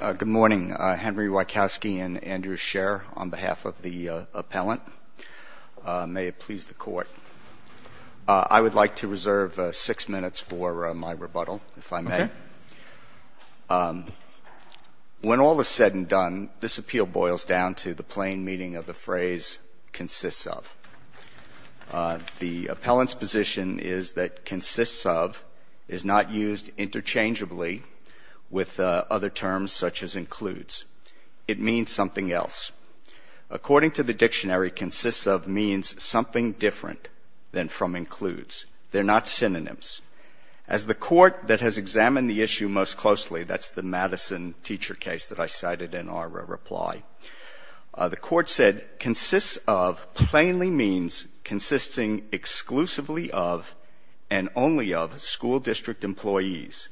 Good morning, Henry Wieckowski and Andrew Scher on behalf of the appellant. May it please the court. I would like to reserve six minutes for my rebuttal, if I may. When all is said and done, this appeal boils down to the plain meaning of the phrase, consists of. The appellant's position is that consists of is not used interchangeably with other terms such as includes. It means something else. According to the dictionary, consists of means something different than from includes. They're not synonyms. As the court that has examined the issue most closely, that's the Madison teacher case that I cited in our reply, the court said consists of plainly means consisting exclusively of and only of school district employees.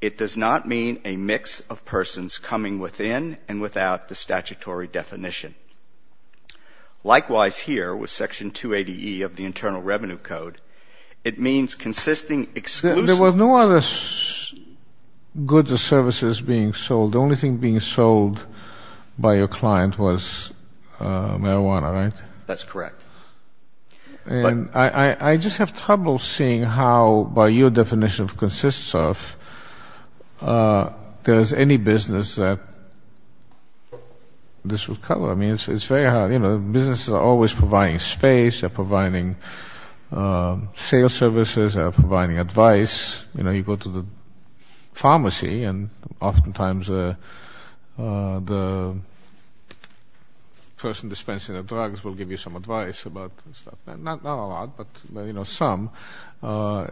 It does not mean a mix of persons coming within and without the statutory definition. Likewise here with section 280E of the Internal Revenue Code, it means consisting exclusively... There were no other goods or services being sold. The only thing being sold by your client was marijuana, right? That's correct. And I just have trouble seeing how, by your definition of consists of, there is any business that this would cover. I mean, it's very hard. You know, businesses are always providing space, they're providing sales services, they're providing advice. You know, you go to the pharmacy, they give you some advice about stuff. Not a lot, but some. I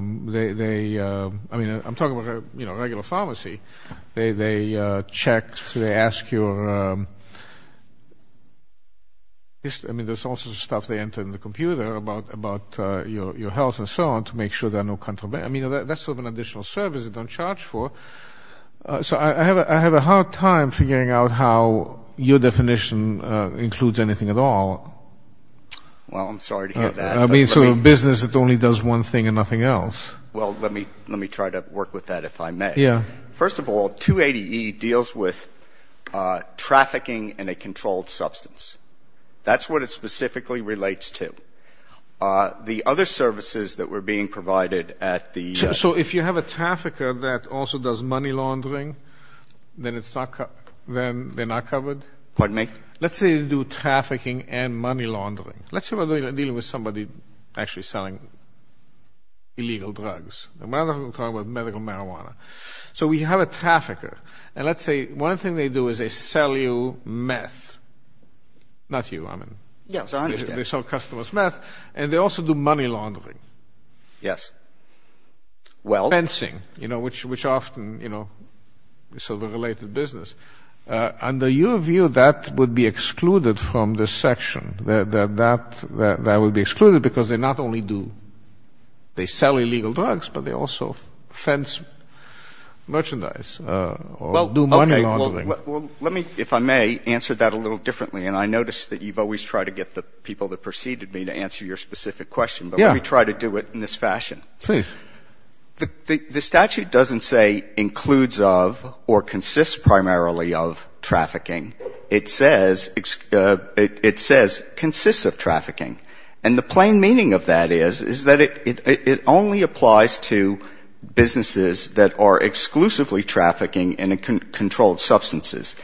mean, I'm talking about a regular pharmacy. They check, they ask your... I mean, there's all sorts of stuff they enter in the computer about your health and so on to make sure there are no... I mean, that's sort of an additional service they don't charge for. So I have a hard time figuring out how your definition includes anything at all. Well, I'm sorry to hear that. I mean, so a business that only does one thing and nothing else. Well, let me try to work with that if I may. Yeah. First of all, 280E deals with trafficking in a controlled substance. That's what it specifically relates to. The other services that were being provided at the... So if you have a trafficker that also does money laundering, then they're not covered? Pardon me? Let's say they do trafficking and money laundering. Let's say we're dealing with somebody actually selling illegal drugs. We're talking about medical marijuana. So we have a trafficker, and let's say one thing they do is they sell you meth. Not you, I mean. Yes, I understand. They sell customers meth, and they also do money laundering. Yes. Fencing, which often is sort of a related business. Under your view, that would be excluded from this section. That would be excluded because they not only do, they sell illegal drugs, but they also fence merchandise or do money laundering. Well, okay. Well, let me, if I may, answer that a little differently. And I notice that you've always tried to get the people that preceded me to answer your specific question, but let me try to do it in this fashion. Please. The statute doesn't say includes of or consists primarily of trafficking. It says consists of trafficking. And the plain meaning of that is, is that it only applies to businesses that are exclusively trafficking in controlled substances.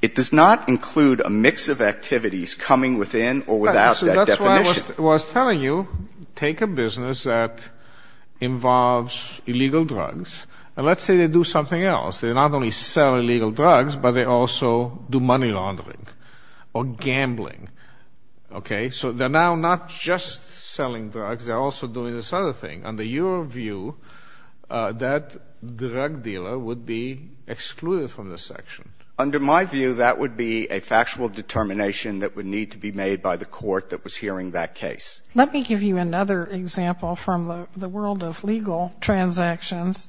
It does not include a mix of activities coming within or without that definition. Well, I was telling you, take a business that involves illegal drugs, and let's say they do something else. They not only sell illegal drugs, but they also do money laundering or gambling. Okay? So they're now not just selling drugs, they're also doing this other thing. Under your view, that drug dealer would be excluded from this section. Under my view, that would be a factual determination that would need to be made by the case. Let me give you another example from the world of legal transactions.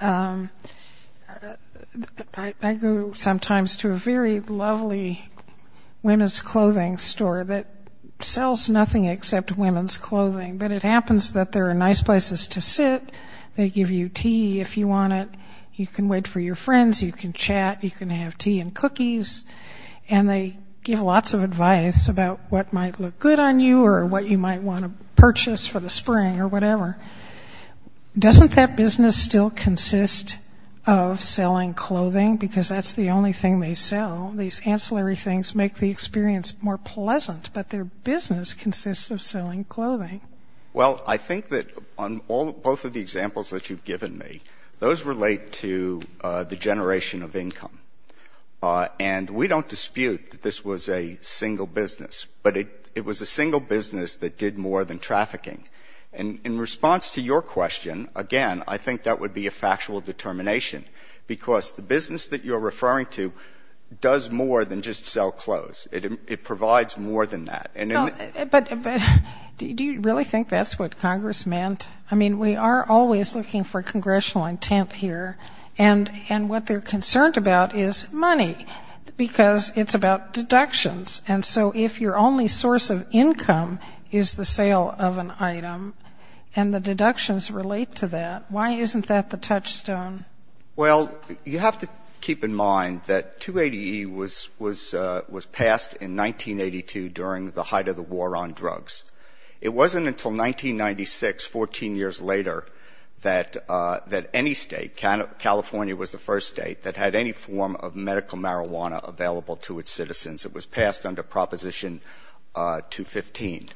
I go sometimes to a very lovely women's clothing store that sells nothing except women's clothing. But it happens that there are nice places to sit. They give you tea if you want it. You can wait for your friends. You can chat. You can have tea and cookies. And they give lots of advice about what might look good on you or what you might want to purchase for the spring or whatever. Doesn't that business still consist of selling clothing? Because that's the only thing they sell. These ancillary things make the experience more pleasant. But their business consists of selling clothing. Well, I think that on both of the examples that you've given me, those relate to the single business. But it was a single business that did more than trafficking. And in response to your question, again, I think that would be a factual determination. Because the business that you're referring to does more than just sell clothes. It provides more than that. But do you really think that's what Congress meant? I mean, we are always looking for congressional intent here. And what they're concerned about is money, because it's about deductions. And so if your only source of income is the sale of an item and the deductions relate to that, why isn't that the touchstone? Well, you have to keep in mind that 280E was passed in 1982 during the height of the war on drugs. It wasn't until 1996, 14 years later, that any state, California was the first state that had any form of medical marijuana available to its citizens. It was passed under Proposition 215.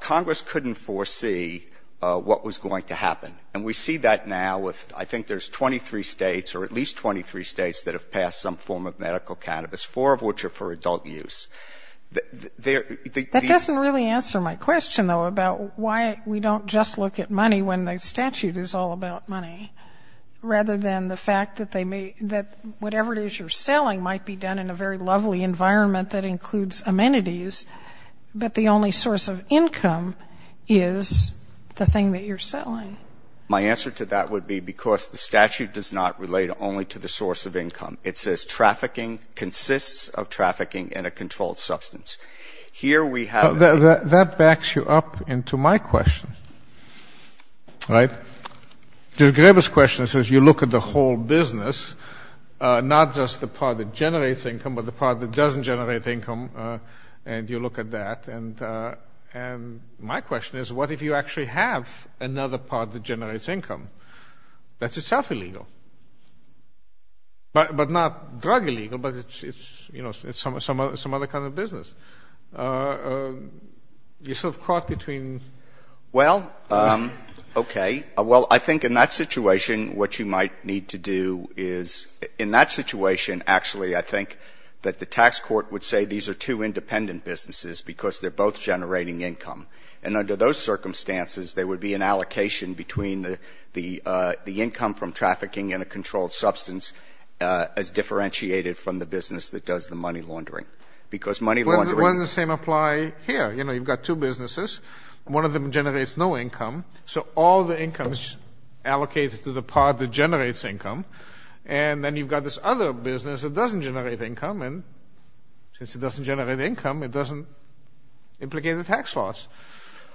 Congress couldn't foresee what was going to happen. And we see that now with, I think there's 23 States or at least 23 States that have passed some form of medical cannabis, four of which are for adult use. That doesn't really answer my question, though, about why we don't just look at money when the statute is all about money, rather than the fact that they may — that whatever it is you're selling might be done in a very lovely environment that includes amenities, but the only source of income is the thing that you're selling. My answer to that would be because the statute does not relate only to the source of income. It says trafficking consists of trafficking in a controlled substance. Here we have a — Well, that backs you up into my question, right? Mr. Grebe's question says you look at the whole business, not just the part that generates income, but the part that doesn't generate income, and you look at that. And my question is, what if you actually have another part that generates income? That's itself illegal. But not drug illegal, but it's, you know, some other kind of business. You're sort of caught between the two. Well, okay. Well, I think in that situation what you might need to do is — in that situation, actually, I think that the tax court would say these are two independent businesses because they're both generating income. And under those circumstances, there would be an allocation between the income from trafficking in a controlled substance as differentiated from the business that does the money laundering. Because money laundering — But wouldn't the same apply here? You know, you've got two businesses. One of them generates no income. So all the income is allocated to the part that generates income. And then you've got this other business that doesn't generate income. And since it doesn't generate income, it doesn't implicate a tax loss.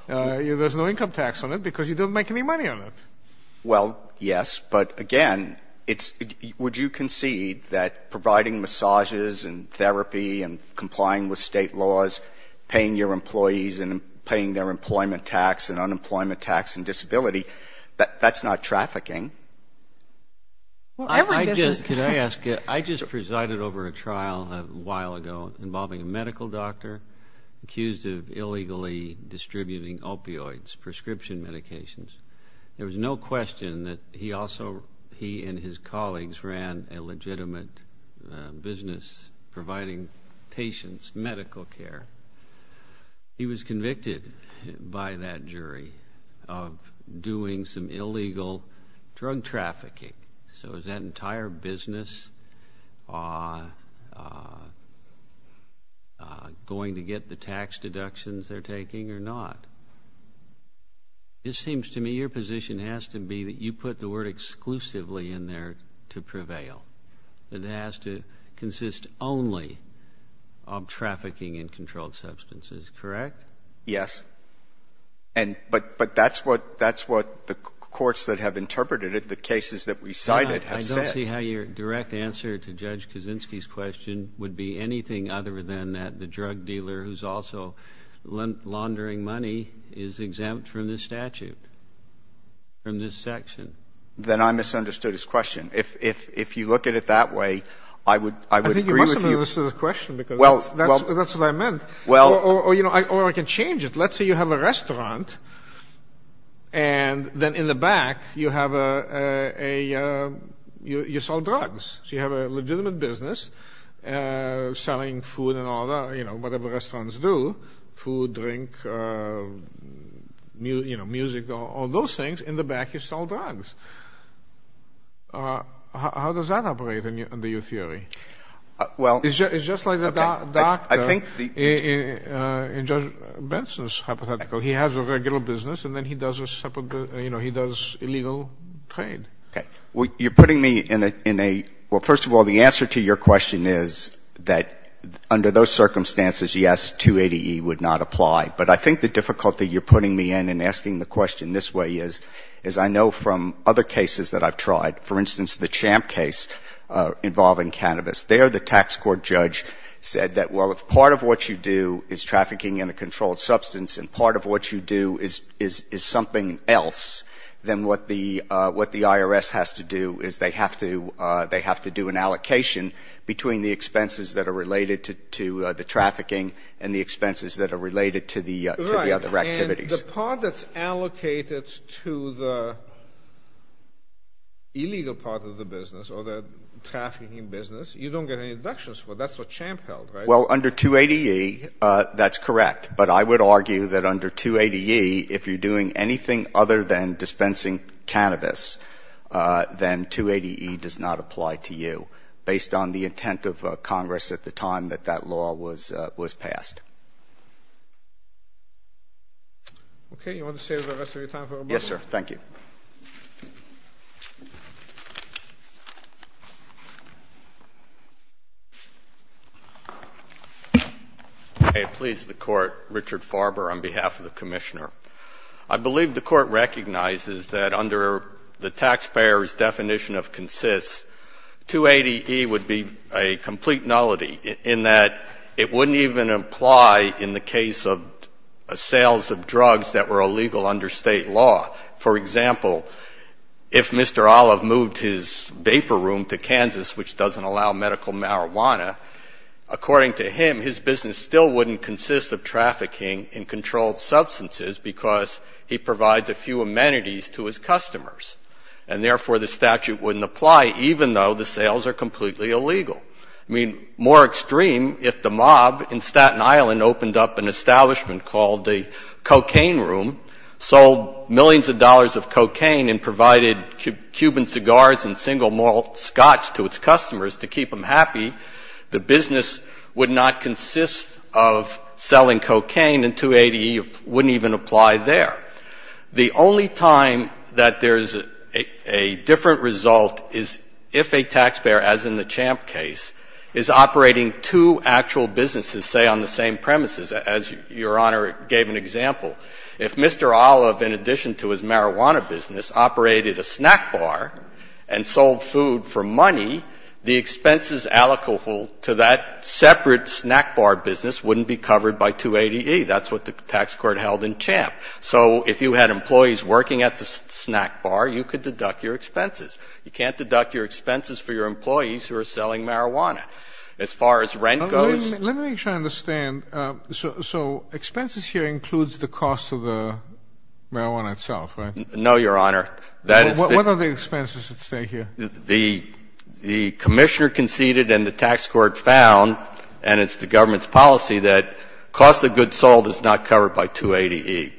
There's no income tax on it because you don't make any money on it. Well, yes. But, again, it's — would you concede that providing massages and therapy and complying with state laws, paying your employees and paying their employment tax and unemployment tax and disability, that's not trafficking? I just — could I ask — I just presided over a trial a while ago involving a medical doctor accused of illegally distributing opioids, prescription medications. There was no question that he also — he and his colleagues ran a medical care. He was convicted by that jury of doing some illegal drug trafficking. So is that entire business going to get the tax deductions they're taking or not? It seems to me your position has to be that you put the word exclusively in there to say that you're not involved in trafficking in controlled substances, correct? Yes. But that's what the courts that have interpreted it, the cases that we cited, have said. I don't see how your direct answer to Judge Kaczynski's question would be anything other than that the drug dealer who's also laundering money is exempt from this jurisdiction because that's what I meant. Or I can change it. Let's say you have a restaurant and then in the back you have a — you sell drugs. So you have a legitimate business selling food and all that, whatever restaurants do, food, drink, music, all those things. In the back you sell drugs. How does that operate under your theory? It's just like the doctor in Judge Benson's hypothetical. He has a regular business and then he does illegal trade. Okay. You're putting me in a — well, first of all, the answer to your question is that under those circumstances, yes, 280E would not apply. But I think the difficulty you're getting at is that there are other cases that I've tried. For instance, the Champ case involving cannabis. There the tax court judge said that, well, if part of what you do is trafficking in a controlled substance and part of what you do is something else, then what the IRS has to do is they have to do an allocation between the expenses that are related to the trafficking and the expenses that are related to the other activities. The part that's allocated to the illegal part of the business or the trafficking business, you don't get any deductions for. That's what Champ held, right? Well, under 280E, that's correct. But I would argue that under 280E, if you're doing anything other than dispensing cannabis, then 280E does not apply to you, based on the intent of Congress at the time that that law was passed. Okay. You want to save the rest of your time for rebuttal? Yes, sir. Thank you. May it please the Court. Richard Farber on behalf of the Commissioner. I believe the Court recognizes that under the taxpayer's definition of consists, 280E would be a complete nullity in that it wouldn't even apply in the case of sales of drugs that were illegal under State law. For example, if Mr. Olive moved his vapor room to Kansas, which doesn't allow medical marijuana, according to him, his business still wouldn't consist of trafficking in controlled substances because he provides a few amenities to his customers. And therefore, the statute wouldn't apply, even though the sales are completely illegal. I mean, more extreme, if the mob in Staten Island opened up an establishment called the Cocaine Room, sold millions of dollars of cocaine, and provided Cuban cigars and single malt scotch to its customers to keep them happy, the business would not consist of selling cocaine, and 280E wouldn't even apply there. The only time that there's a different result is if a taxpayer, as in the Champ case, is operating two actual businesses, say, on the same premises, as Your Honor gave an example. If Mr. Olive, in addition to his marijuana business, operated a snack bar and sold food for money, the expenses allocable to that separate snack bar business wouldn't be covered by 280E. That's what the tax court held in this case. So if you had employees working at the snack bar, you could deduct your expenses. You can't deduct your expenses for your employees who are selling marijuana. As far as rent goes ---- Let me make sure I understand. So expenses here includes the cost of the marijuana itself, right? No, Your Honor. What are the expenses that stay here? The commissioner conceded and the tax court found, and it's the government's policy, that cost of goods sold is not covered by 280E.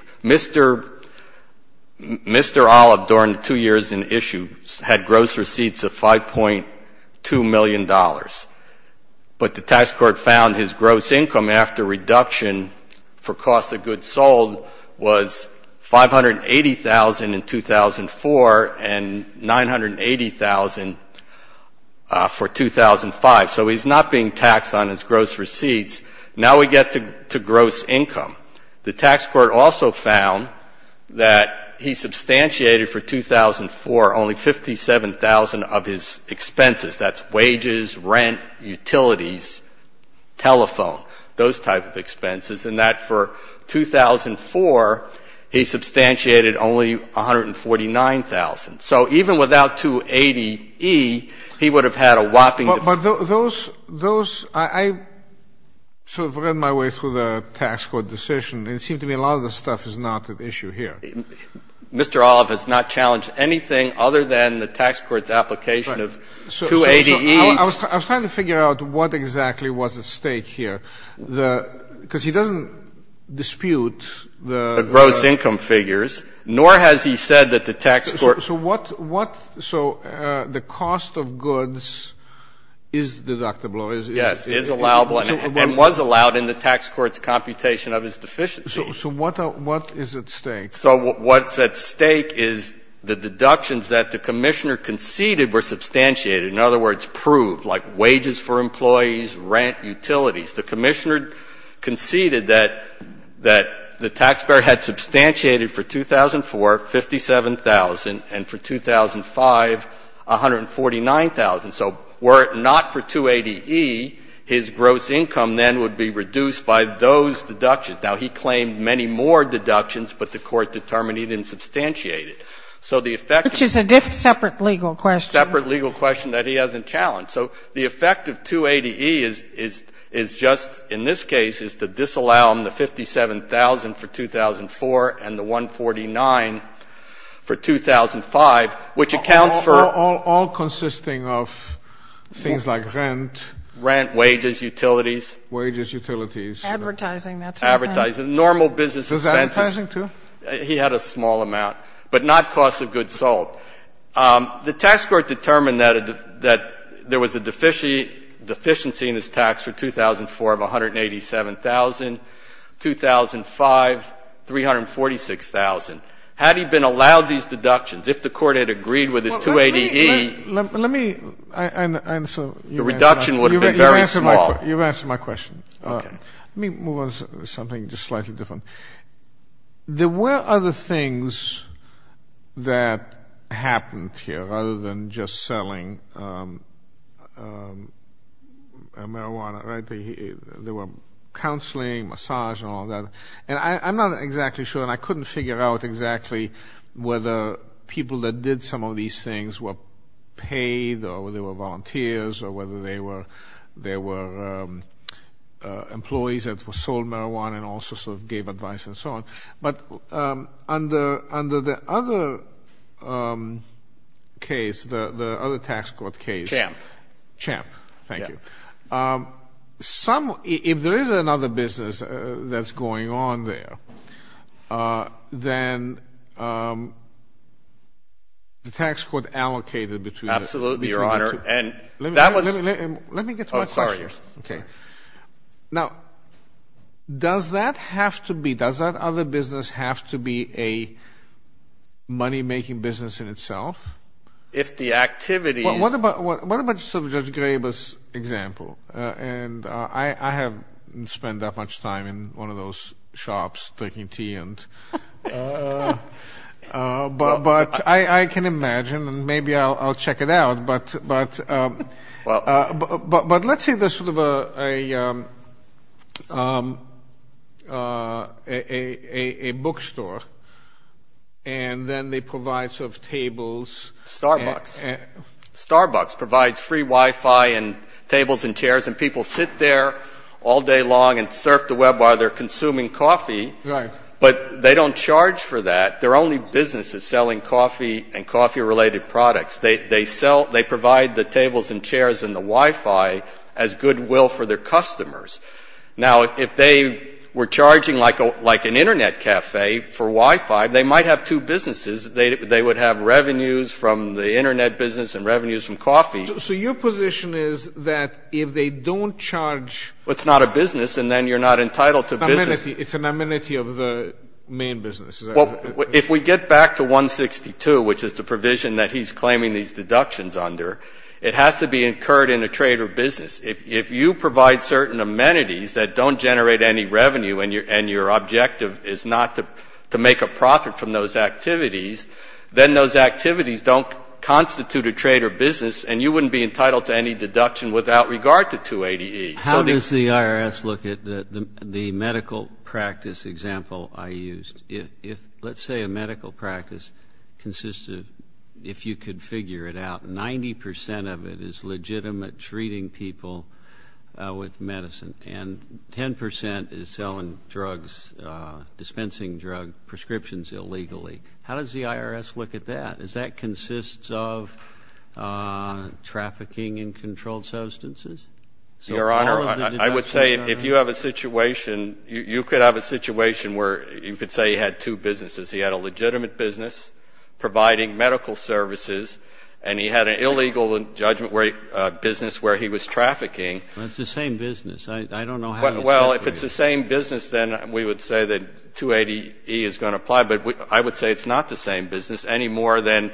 Mr. Olive, during the two years in issue, had gross receipts of $5.2 million. But the tax court found his gross income after reduction for cost of goods sold was $580,000 in 2004 and $980,000 for 2005. So he's not being taxed on his gross receipts. Now we get to gross income. The tax court also found that he substantiated for 2004 only $57,000 of his expenses. That's wages, rent, utilities, telephone, those type of expenses, and that for 2004, he substantiated only $149,000. So even without 280E, he would have had a whopping ---- But those ---- I sort of ran my way through the tax court decision, and it seemed to me a lot of the stuff is not at issue here. Mr. Olive has not challenged anything other than the tax court's application of 280E. I was trying to figure out what exactly was at stake here. Because he doesn't dispute the ---- The gross income figures, nor has he said that the tax court ---- So what ---- So the cost of goods is deductible, is ---- Yes, is allowable and was allowed in the tax court's computation of his deficiencies. So what is at stake? So what's at stake is the deductions that the Commissioner conceded were substantiated, in other words, proved, like wages for employees, rent, utilities. The Commissioner conceded that the taxpayer had substantiated for 2004 $57,000 and for 2005 $149,000. So were it not for 280E, his gross income then would be reduced by those deductions. Now, he claimed many more deductions, but the Court determined he didn't substantiate it. So the effect ---- Which is a separate legal question. Separate legal question that he hasn't challenged. So the effect of 280E is just in this case is to disallow him the $57,000 for 2004 and the $149,000 for 2005, which accounts for ---- All consisting of things like rent. Rent, wages, utilities. Wages, utilities. Advertising. Advertising. Normal business expenses. Was advertising too? He had a small amount, but not cost of goods sold. The tax court determined that there was a deficiency in his tax for 2004 of $187,000. 2005, $346,000. Had he been allowed these deductions, if the Court had agreed with his 280E ---- Let me answer. Your reduction would have been very small. You've answered my question. Okay. Let me move on to something just slightly different. There were other things that happened here, other than just selling marijuana. There were counseling, massage, and all that. And I'm not exactly sure, and I couldn't figure out exactly whether people that did some of these things were paid or they were volunteers or whether they were employees that sold marijuana and also sort of gave advice and so on. But under the other case, the other tax court case ---- Champ. Champ. Thank you. If there is another business that's going on there, then the tax court allocated between the two. Absolutely, Your Honor. And that was ---- Let me get to my question. Oh, sorry. Okay. Now, does that have to be, does that other business have to be a money-making business in itself? If the activities ---- What about sort of Judge Graber's example? And I haven't spent that much time in one of those shops drinking tea, but I can imagine, and maybe I'll check it out. But let's say there's sort of a bookstore, and then they provide sort of tables. Starbucks. Starbucks provides free Wi-Fi and tables and chairs. And people sit there all day long and surf the Web while they're consuming coffee. Right. But they don't charge for that. Their only business is selling coffee and coffee-related products. They sell, they provide the tables and chairs and the Wi-Fi as goodwill for their customers. Now, if they were charging like an Internet cafe for Wi-Fi, they might have two businesses. They would have revenues from the Internet business and revenues from coffee. So your position is that if they don't charge ---- Well, it's not a business, and then you're not entitled to business. It's an amenity of the main business. Well, if we get back to 162, which is the provision that he's claiming these deductions under, it has to be incurred in a trade or business. If you provide certain amenities that don't generate any revenue and your objective is not to make a profit from those activities, then those activities don't constitute a trade or business, and you wouldn't be entitled to any deduction without regard to 280E. How does the IRS look at the medical practice example I used? Let's say a medical practice consists of, if you could figure it out, 90 percent of it is legitimate treating people with medicine and 10 percent is selling drugs, dispensing drug prescriptions illegally. How does the IRS look at that? Does that consist of trafficking in controlled substances? Your Honor, I would say if you have a situation, you could have a situation where you could say he had two businesses. He had a legitimate business providing medical services, and he had an illegal business where he was trafficking. Well, it's the same business. I don't know how to solve it. Well, if it's the same business, then we would say that 280E is going to apply. But I would say it's not the same business any more than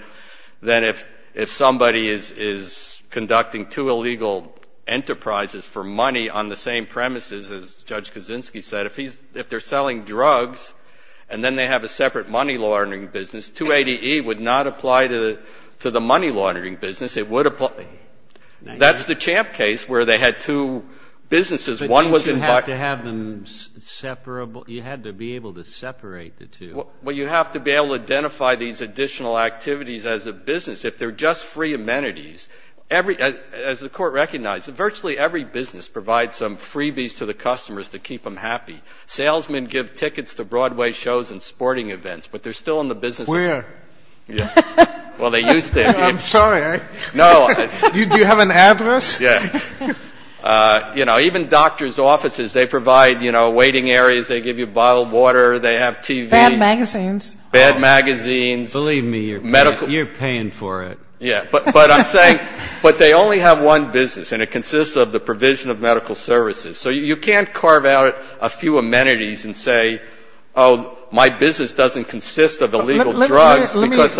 if somebody is conducting two illegal enterprises for money on the same premises, as Judge Kaczynski said. If he's ‑‑ if they're selling drugs and then they have a separate money laundering business, 280E would not apply to the money laundering business. It would apply ‑‑ that's the Champ case where they had two businesses. One was in ‑‑ But don't you have to have them separable? You had to be able to separate the two. Well, you have to be able to identify these additional activities as a business. If they're just free amenities, every ‑‑ as the Court recognized, virtually every business provides some freebies to the customers to keep them happy. Salesmen give tickets to Broadway shows and sporting events, but they're still in the business. Where? Well, they used to. I'm sorry. No. Do you have an address? Yeah. You know, even doctors' offices, they provide, you know, waiting areas. They give you bottled water. They have TV. Bad magazines. Bad magazines. Believe me, you're paying for it. Yeah. But they only have one business, and it consists of the provision of medical services. So you can't carve out a few amenities and say, oh, my business doesn't consist of illegal drugs because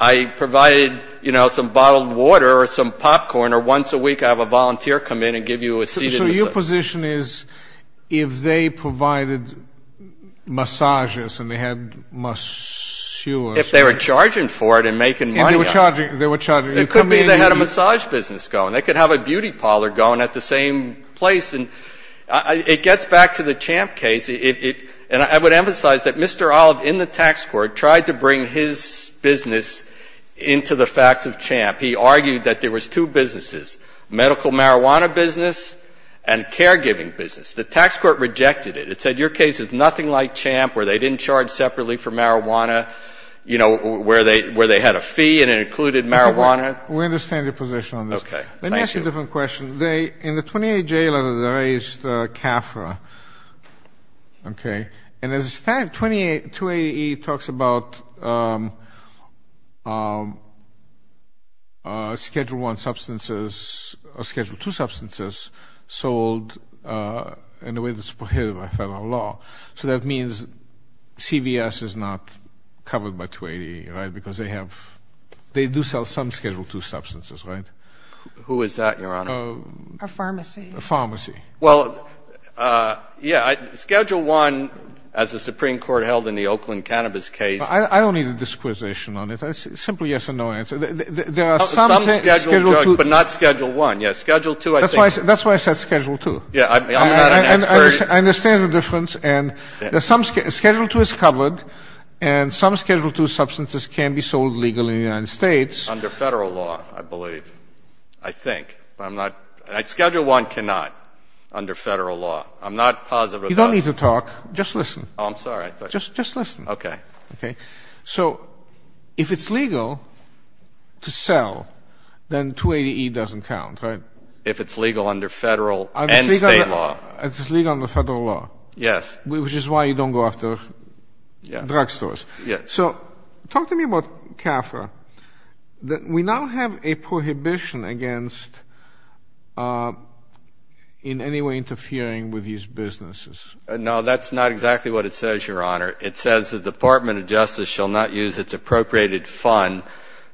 I provide, you know, some bottled water or some popcorn or once a week I have a volunteer come in and give you a seat. So your position is if they provided massages and they had masseurs. If they were charging for it and making money. If they were charging. It could be they had a massage business going. They could have a beauty parlor going at the same place. And it gets back to the Champ case, and I would emphasize that Mr. Olive in the tax court tried to bring his business into the facts of Champ. He argued that there was two businesses, medical marijuana business and caregiving business. The tax court rejected it. It said your case is nothing like Champ where they didn't charge separately for marijuana, you know, where they had a fee and it included marijuana. We understand your position on this. Thank you. Let me ask you a different question. In the 28J letter they raised CAFRA. Okay. And as a statute, 28AE talks about Schedule I substances or Schedule II substances sold in a way that's prohibited by federal law. So that means CVS is not covered by 28AE, right, because they have they do sell some Schedule II substances, right? Who is that, Your Honor? A pharmacy. A pharmacy. Well, yeah. Schedule I, as the Supreme Court held in the Oakland Cannabis case. I don't need a disquisition on it. Simply yes or no answer. There are some Schedule II. But not Schedule I. Yes. Schedule II I think. That's why I said Schedule II. Yeah. I understand the difference. And Schedule II is covered and some Schedule II substances can be sold legally in the United States. Under federal law, I believe. I think. But I'm not. Schedule I cannot under federal law. I'm not positive about it. You don't need to talk. Just listen. Oh, I'm sorry. Just listen. Okay. Okay. So if it's legal to sell, then 28AE doesn't count, right? If it's legal under federal and state law. It's legal under federal law. Yes. Which is why you don't go after drugstores. Yes. So talk to me about CAFRA. We now have a prohibition against in any way interfering with these businesses. No, that's not exactly what it says, Your Honor. It says the Department of Justice shall not use its appropriated fund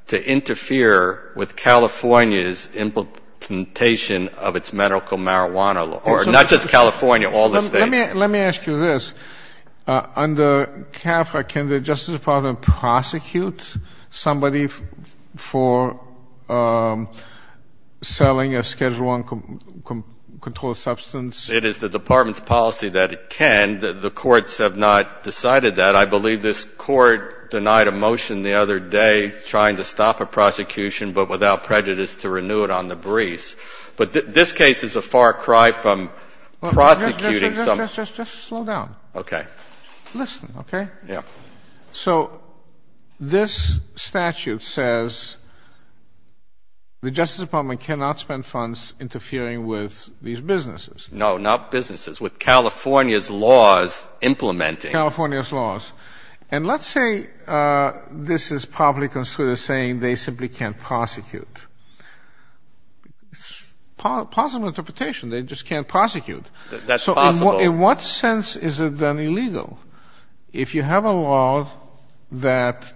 to interfere with California's implementation of its medical marijuana law. Or not just California, all the states. Let me ask you this. Under CAFRA, can the Justice Department prosecute somebody for selling a Schedule I controlled substance? It is the Department's policy that it can. The courts have not decided that. I believe this court denied a motion the other day trying to stop a prosecution but without prejudice to renew it on the briefs. But this case is a far cry from prosecuting someone. Just slow down. Okay. Listen, okay? Yeah. So this statute says the Justice Department cannot spend funds interfering with these businesses. No, not businesses. With California's laws implementing. California's laws. And let's say this is probably considered saying they simply can't prosecute. It's a possible interpretation. They just can't prosecute. That's possible. So in what sense is it then illegal? If you have a law that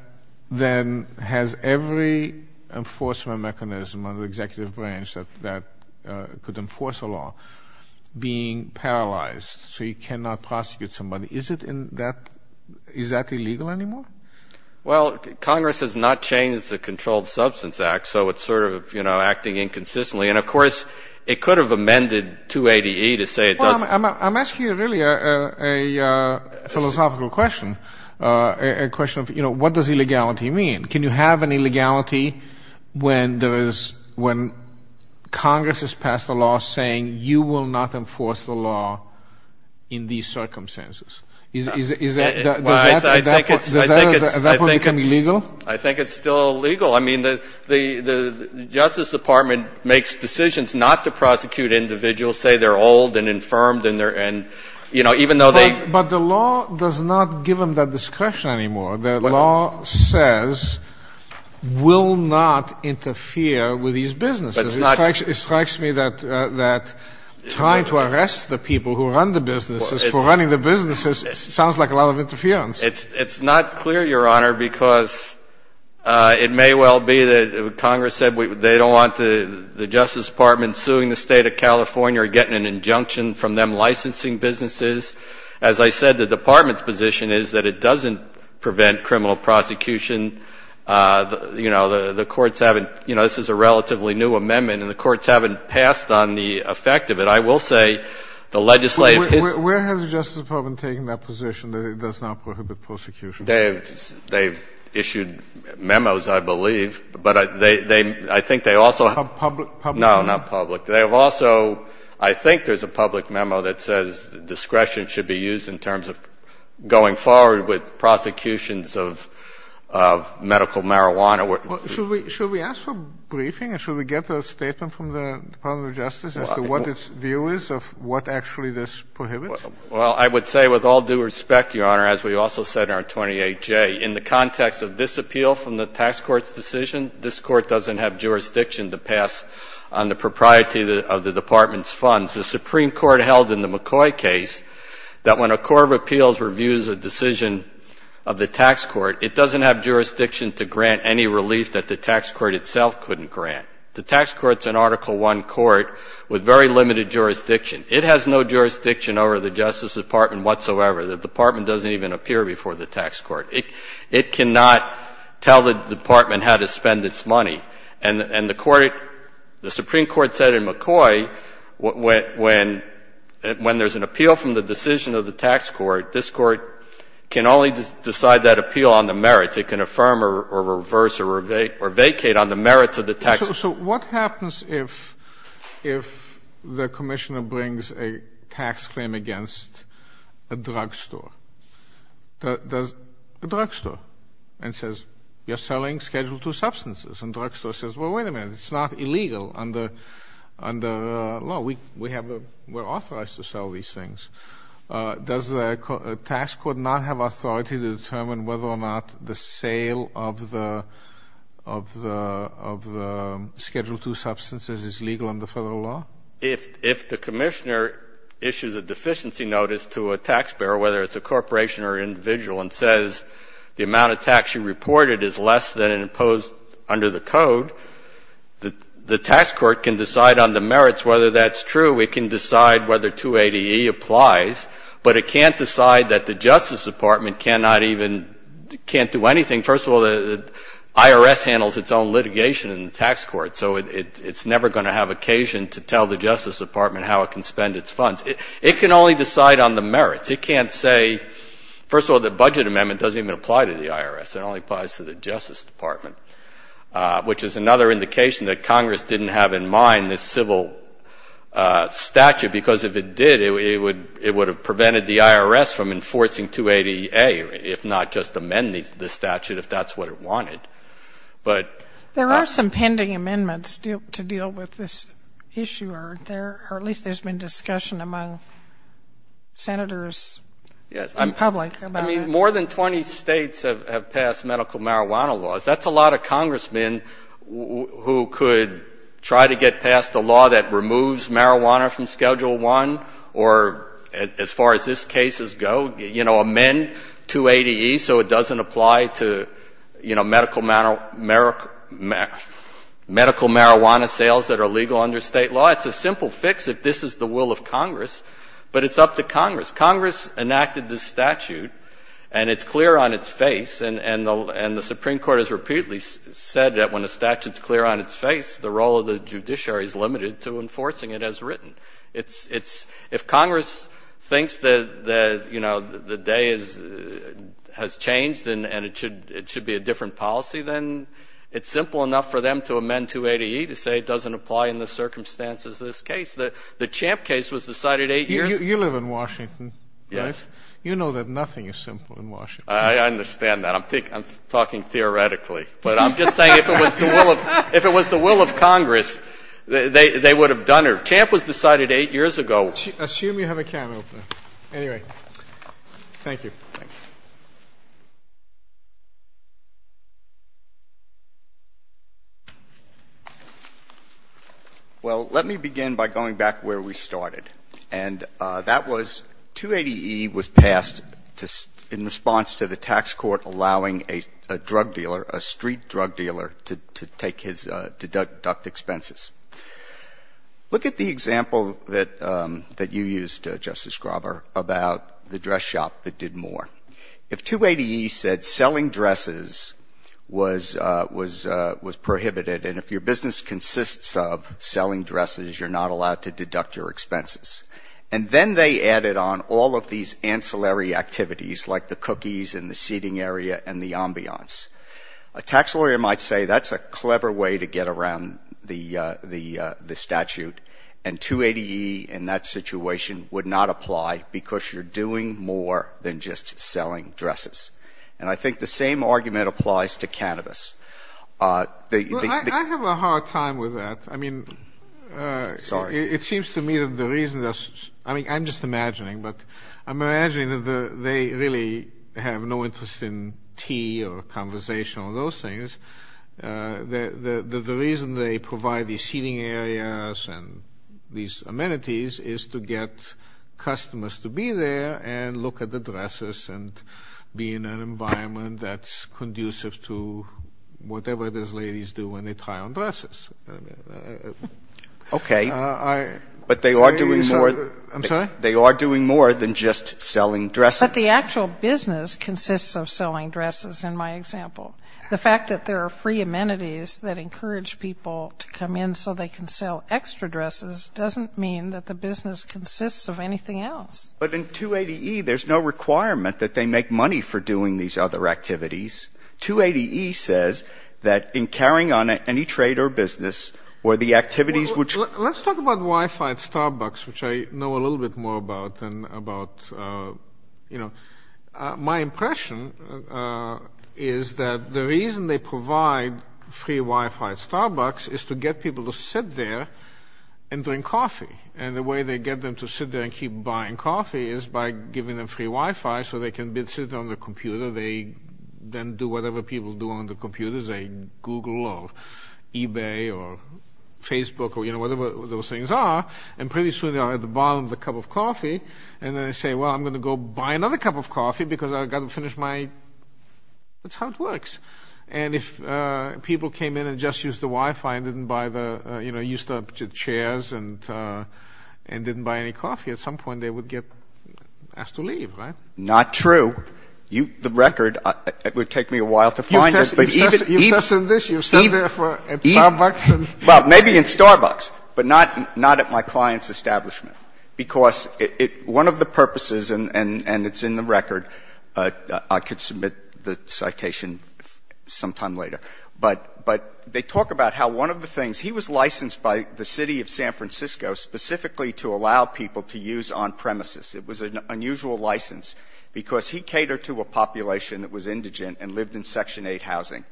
then has every enforcement mechanism of the executive branch that could enforce a law being paralyzed, so you cannot prosecute somebody, is that illegal anymore? Well, Congress has not changed the Controlled Substance Act, so it's sort of, you know, acting inconsistently. And, of course, it could have amended 280E to say it doesn't. I'm asking you really a philosophical question, a question of, you know, what does illegality mean? Can you have an illegality when Congress has passed a law saying you will not enforce the law in these circumstances? Does that become illegal? I think it's still illegal. I mean, the Justice Department makes decisions not to prosecute individuals, say they're old and infirmed and, you know, even though they. But the law does not give them that discretion anymore. The law says will not interfere with these businesses. It strikes me that trying to arrest the people who run the businesses for running the businesses sounds like a lot of interference. It's not clear, Your Honor, because it may well be that Congress said they don't want the Justice Department suing the State of California or getting an injunction from them licensing businesses. As I said, the Department's position is that it doesn't prevent criminal prosecution. You know, the courts haven't, you know, this is a relatively new amendment, and the courts haven't passed on the effect of it. I will say the legislative history. Where has the Justice Department taken that position that it does not prohibit prosecution? They've issued memos, I believe, but I think they also have. Public memos? No, not public. They have also, I think there's a public memo that says discretion should be used in terms of going forward with prosecutions of medical marijuana. Should we ask for a briefing and should we get a statement from the Department of Justice as to what its view is of what actually this prohibits? Well, I would say with all due respect, Your Honor, as we also said in our 28J, in the context of this appeal from the tax court's decision, this court doesn't have jurisdiction to pass on the propriety of the Department's funds. The Supreme Court held in the McCoy case that when a court of appeals reviews a decision of the tax court, it doesn't have jurisdiction to grant any relief that the tax court itself couldn't grant. The tax court's an Article I court with very limited jurisdiction. It has no jurisdiction over the Justice Department whatsoever. The Department doesn't even appear before the tax court. It cannot tell the department how to spend its money. And the court, the Supreme Court said in McCoy when there's an appeal from the decision of the tax court, this court can only decide that appeal on the merits. It can affirm or reverse or vacate on the merits of the tax. So what happens if the commissioner brings a tax claim against a drugstore? Does the drugstore? And says you're selling Schedule II substances. And the drugstore says, well, wait a minute, it's not illegal under the law. We have a — we're authorized to sell these things. Does the tax court not have authority to determine whether or not the sale of the Schedule II substances is legal under federal law? If the commissioner issues a deficiency notice to a taxpayer, whether it's a corporation or individual, and says the amount of tax you reported is less than imposed under the code, the tax court can decide on the merits whether that's true. It can decide whether 280E applies. But it can't decide that the Justice Department cannot even — can't do anything. First of all, the IRS handles its own litigation in the tax court, so it's never going to have occasion to tell the Justice Department how it can spend its funds. It can only decide on the merits. It can't say — first of all, the budget amendment doesn't even apply to the IRS. It only applies to the Justice Department, which is another indication that Congress didn't have in mind this civil statute, because if it did, it would have prevented the IRS from enforcing 280A, if not just amend the statute if that's what it wanted. But — There are some pending amendments to deal with this issue, aren't there? Or at least there's been discussion among senators in public about it. I mean, more than 20 states have passed medical marijuana laws. That's a lot of congressmen who could try to get past a law that removes marijuana from Schedule I or, as far as these cases go, you know, amend 280E so it doesn't apply to, you know, medical marijuana sales that are legal under State law. It's a simple fix if this is the will of Congress, but it's up to Congress. Congress enacted this statute, and it's clear on its face, and the Supreme Court has repeatedly said that when a statute is clear on its face, the role of the judiciary is limited to enforcing it as written. It's — if Congress thinks that, you know, the day has changed and it should be a different policy, then it's simple enough for them to amend 280E to say it doesn't apply in the circumstances of this case. The Champ case was decided 8 years ago. You live in Washington, right? Yes. You know that nothing is simple in Washington. I understand that. I'm talking theoretically. But I'm just saying if it was the will of Congress, they would have done it. Champ was decided 8 years ago. Assume you have a camera open. Anyway, thank you. Thank you. Well, let me begin by going back where we started. And that was 280E was passed in response to the tax court allowing a drug dealer, a street drug dealer, to take his deduct expenses. Look at the example that you used, Justice Grauber, about the dress shop that did more. If 280E said selling dresses was prohibited and if your business consists of selling And then they added on all of these ancillary activities, like the cookies and the seating area and the ambiance. A tax lawyer might say that's a clever way to get around the statute. And 280E in that situation would not apply because you're doing more than just selling dresses. And I think the same argument applies to cannabis. I have a hard time with that. I'm just imagining, but I'm imagining that they really have no interest in tea or conversation or those things. The reason they provide these seating areas and these amenities is to get customers to be there and look at the dresses and be in an environment that's conducive to whatever those ladies do when they try on dresses. Okay. I'm sorry? They are doing more than just selling dresses. But the actual business consists of selling dresses in my example. The fact that there are free amenities that encourage people to come in so they can sell extra dresses doesn't mean that the business consists of anything else. But in 280E there's no requirement that they make money for doing these other activities. 280E says that in carrying on any trade or business or the activities which Well, let's talk about Wi-Fi at Starbucks, which I know a little bit more about than about, you know. My impression is that the reason they provide free Wi-Fi at Starbucks is to get people to sit there and drink coffee. And the way they get them to sit there and keep buying coffee is by giving them free Wi-Fi so they can sit on the computer. They then do whatever people do on the computers. They Google or eBay or Facebook or, you know, whatever those things are. And pretty soon they are at the bottom of the cup of coffee. And then they say, well, I'm going to go buy another cup of coffee because I've got to finish my That's how it works. And if people came in and just used the Wi-Fi and didn't buy the, you know, used the chairs and didn't buy any coffee, at some point they would get asked to leave, right? Not true. The record, it would take me a while to find it. You've tested this. You've sat there at Starbucks. Well, maybe in Starbucks, but not at my client's establishment. Because one of the purposes, and it's in the record. I could submit the citation sometime later. But they talk about how one of the things, he was licensed by the city of San Francisco specifically to allow people to use on premises. It was an unusual license because he catered to a population that was indigent and lived in Section 8 housing.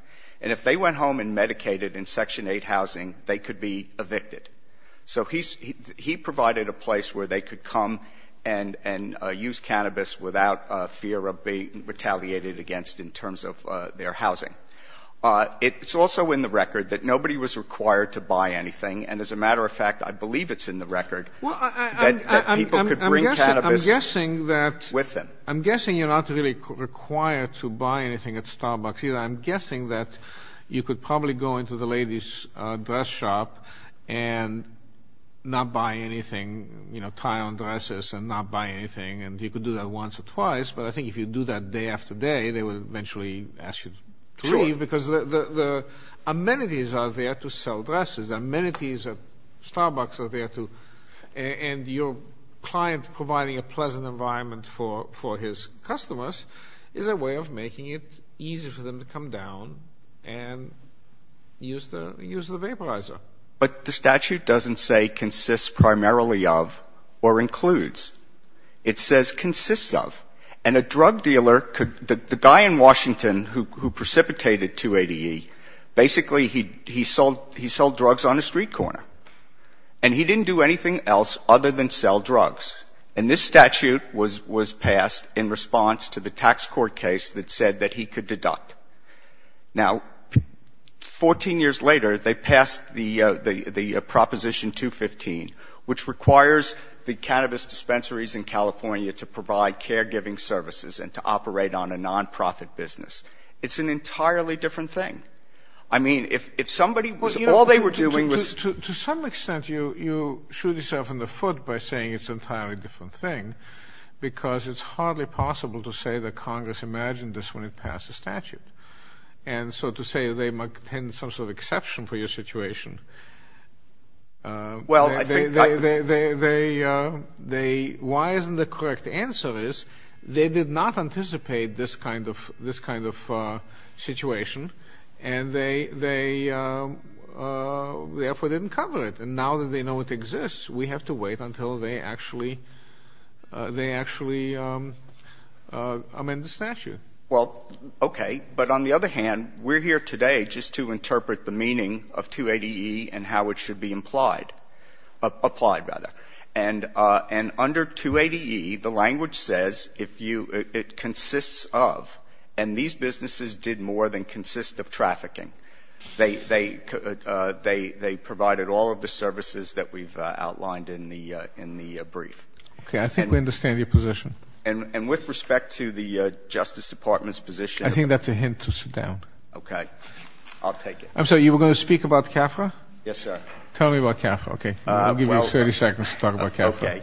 And if they went home and medicated in Section 8 housing, they could be evicted. So he provided a place where they could come and use cannabis without fear of being retaliated against in terms of their housing. It's also in the record that nobody was required to buy anything. And as a matter of fact, I believe it's in the record that people could bring cannabis with them. I'm guessing you're not really required to buy anything at Starbucks either. I'm guessing that you could probably go into the ladies' dress shop and not buy anything, tie on dresses and not buy anything. And you could do that once or twice. But I think if you do that day after day, they would eventually ask you to leave. Sure. Because the amenities are there to sell dresses. The amenities at Starbucks are there to. And your client providing a pleasant environment for his customers is a way of making it easy for them to come down and use the vaporizer. But the statute doesn't say consists primarily of or includes. It says consists of. And a drug dealer could the guy in Washington who precipitated 280E, basically he sold drugs on a street corner. And he didn't do anything else other than sell drugs. And this statute was passed in response to the tax court case that said that he could deduct. Now, 14 years later, they passed the Proposition 215, which requires the cannabis dispensaries in California to provide caregiving services and to operate on a nonprofit business. It's an entirely different thing. I mean, if somebody was all they were doing was. To some extent, you shoot yourself in the foot by saying it's an entirely different thing because it's hardly possible to say that Congress imagined this when it passed a statute. And so to say they might tend to some sort of exception for your situation. Well, I think they they they they they. Why isn't the correct answer is they did not anticipate this kind of this kind of situation. And they they therefore didn't cover it. And now that they know it exists, we have to wait until they actually they actually amend the statute. Well, OK. But on the other hand, we're here today just to interpret the meaning of 280E and how it should be implied, applied rather. And under 280E, the language says if you it consists of and these businesses did more than consist of trafficking, they they they they provided all of the services that we've outlined in the in the brief. OK, I think we understand your position. And with respect to the Justice Department's position, I think that's a hint to sit down. OK, I'll take it. So you were going to speak about CAFRA? Yes, sir. Tell me about CAFRA. OK, I'll give you 30 seconds to talk about CAFRA.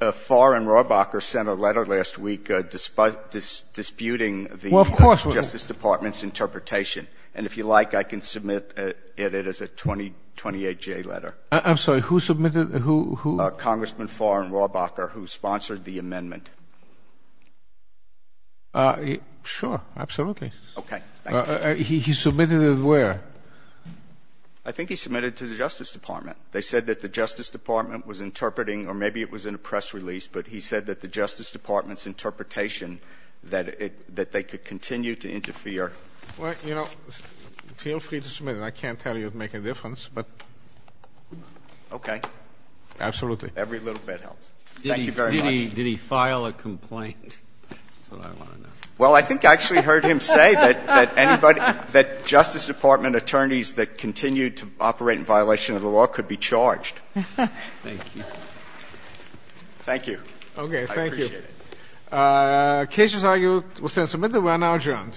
OK. Farr and Rohrbacher sent a letter last week disputing the Justice Department's interpretation. And if you like, I can submit it as a 2028J letter. I'm sorry. Who submitted? Who? Congressman Farr and Rohrbacher, who sponsored the amendment. Sure. Absolutely. OK. He submitted it where? I think he submitted it to the Justice Department. They said that the Justice Department was interpreting or maybe it was in a press release, but he said that the Justice Department's interpretation that it that they could continue to interfere. Well, you know, feel free to submit it. I can't tell you it would make a difference, but. OK. Absolutely. Every little bit helps. Thank you very much. Did he file a complaint? That's what I want to know. Well, I think I actually heard him say that anybody that Justice Department attorneys that continue to operate in violation of the law could be charged. Thank you. Thank you. OK. Thank you. Cases are you will send submitted. We're now adjourned.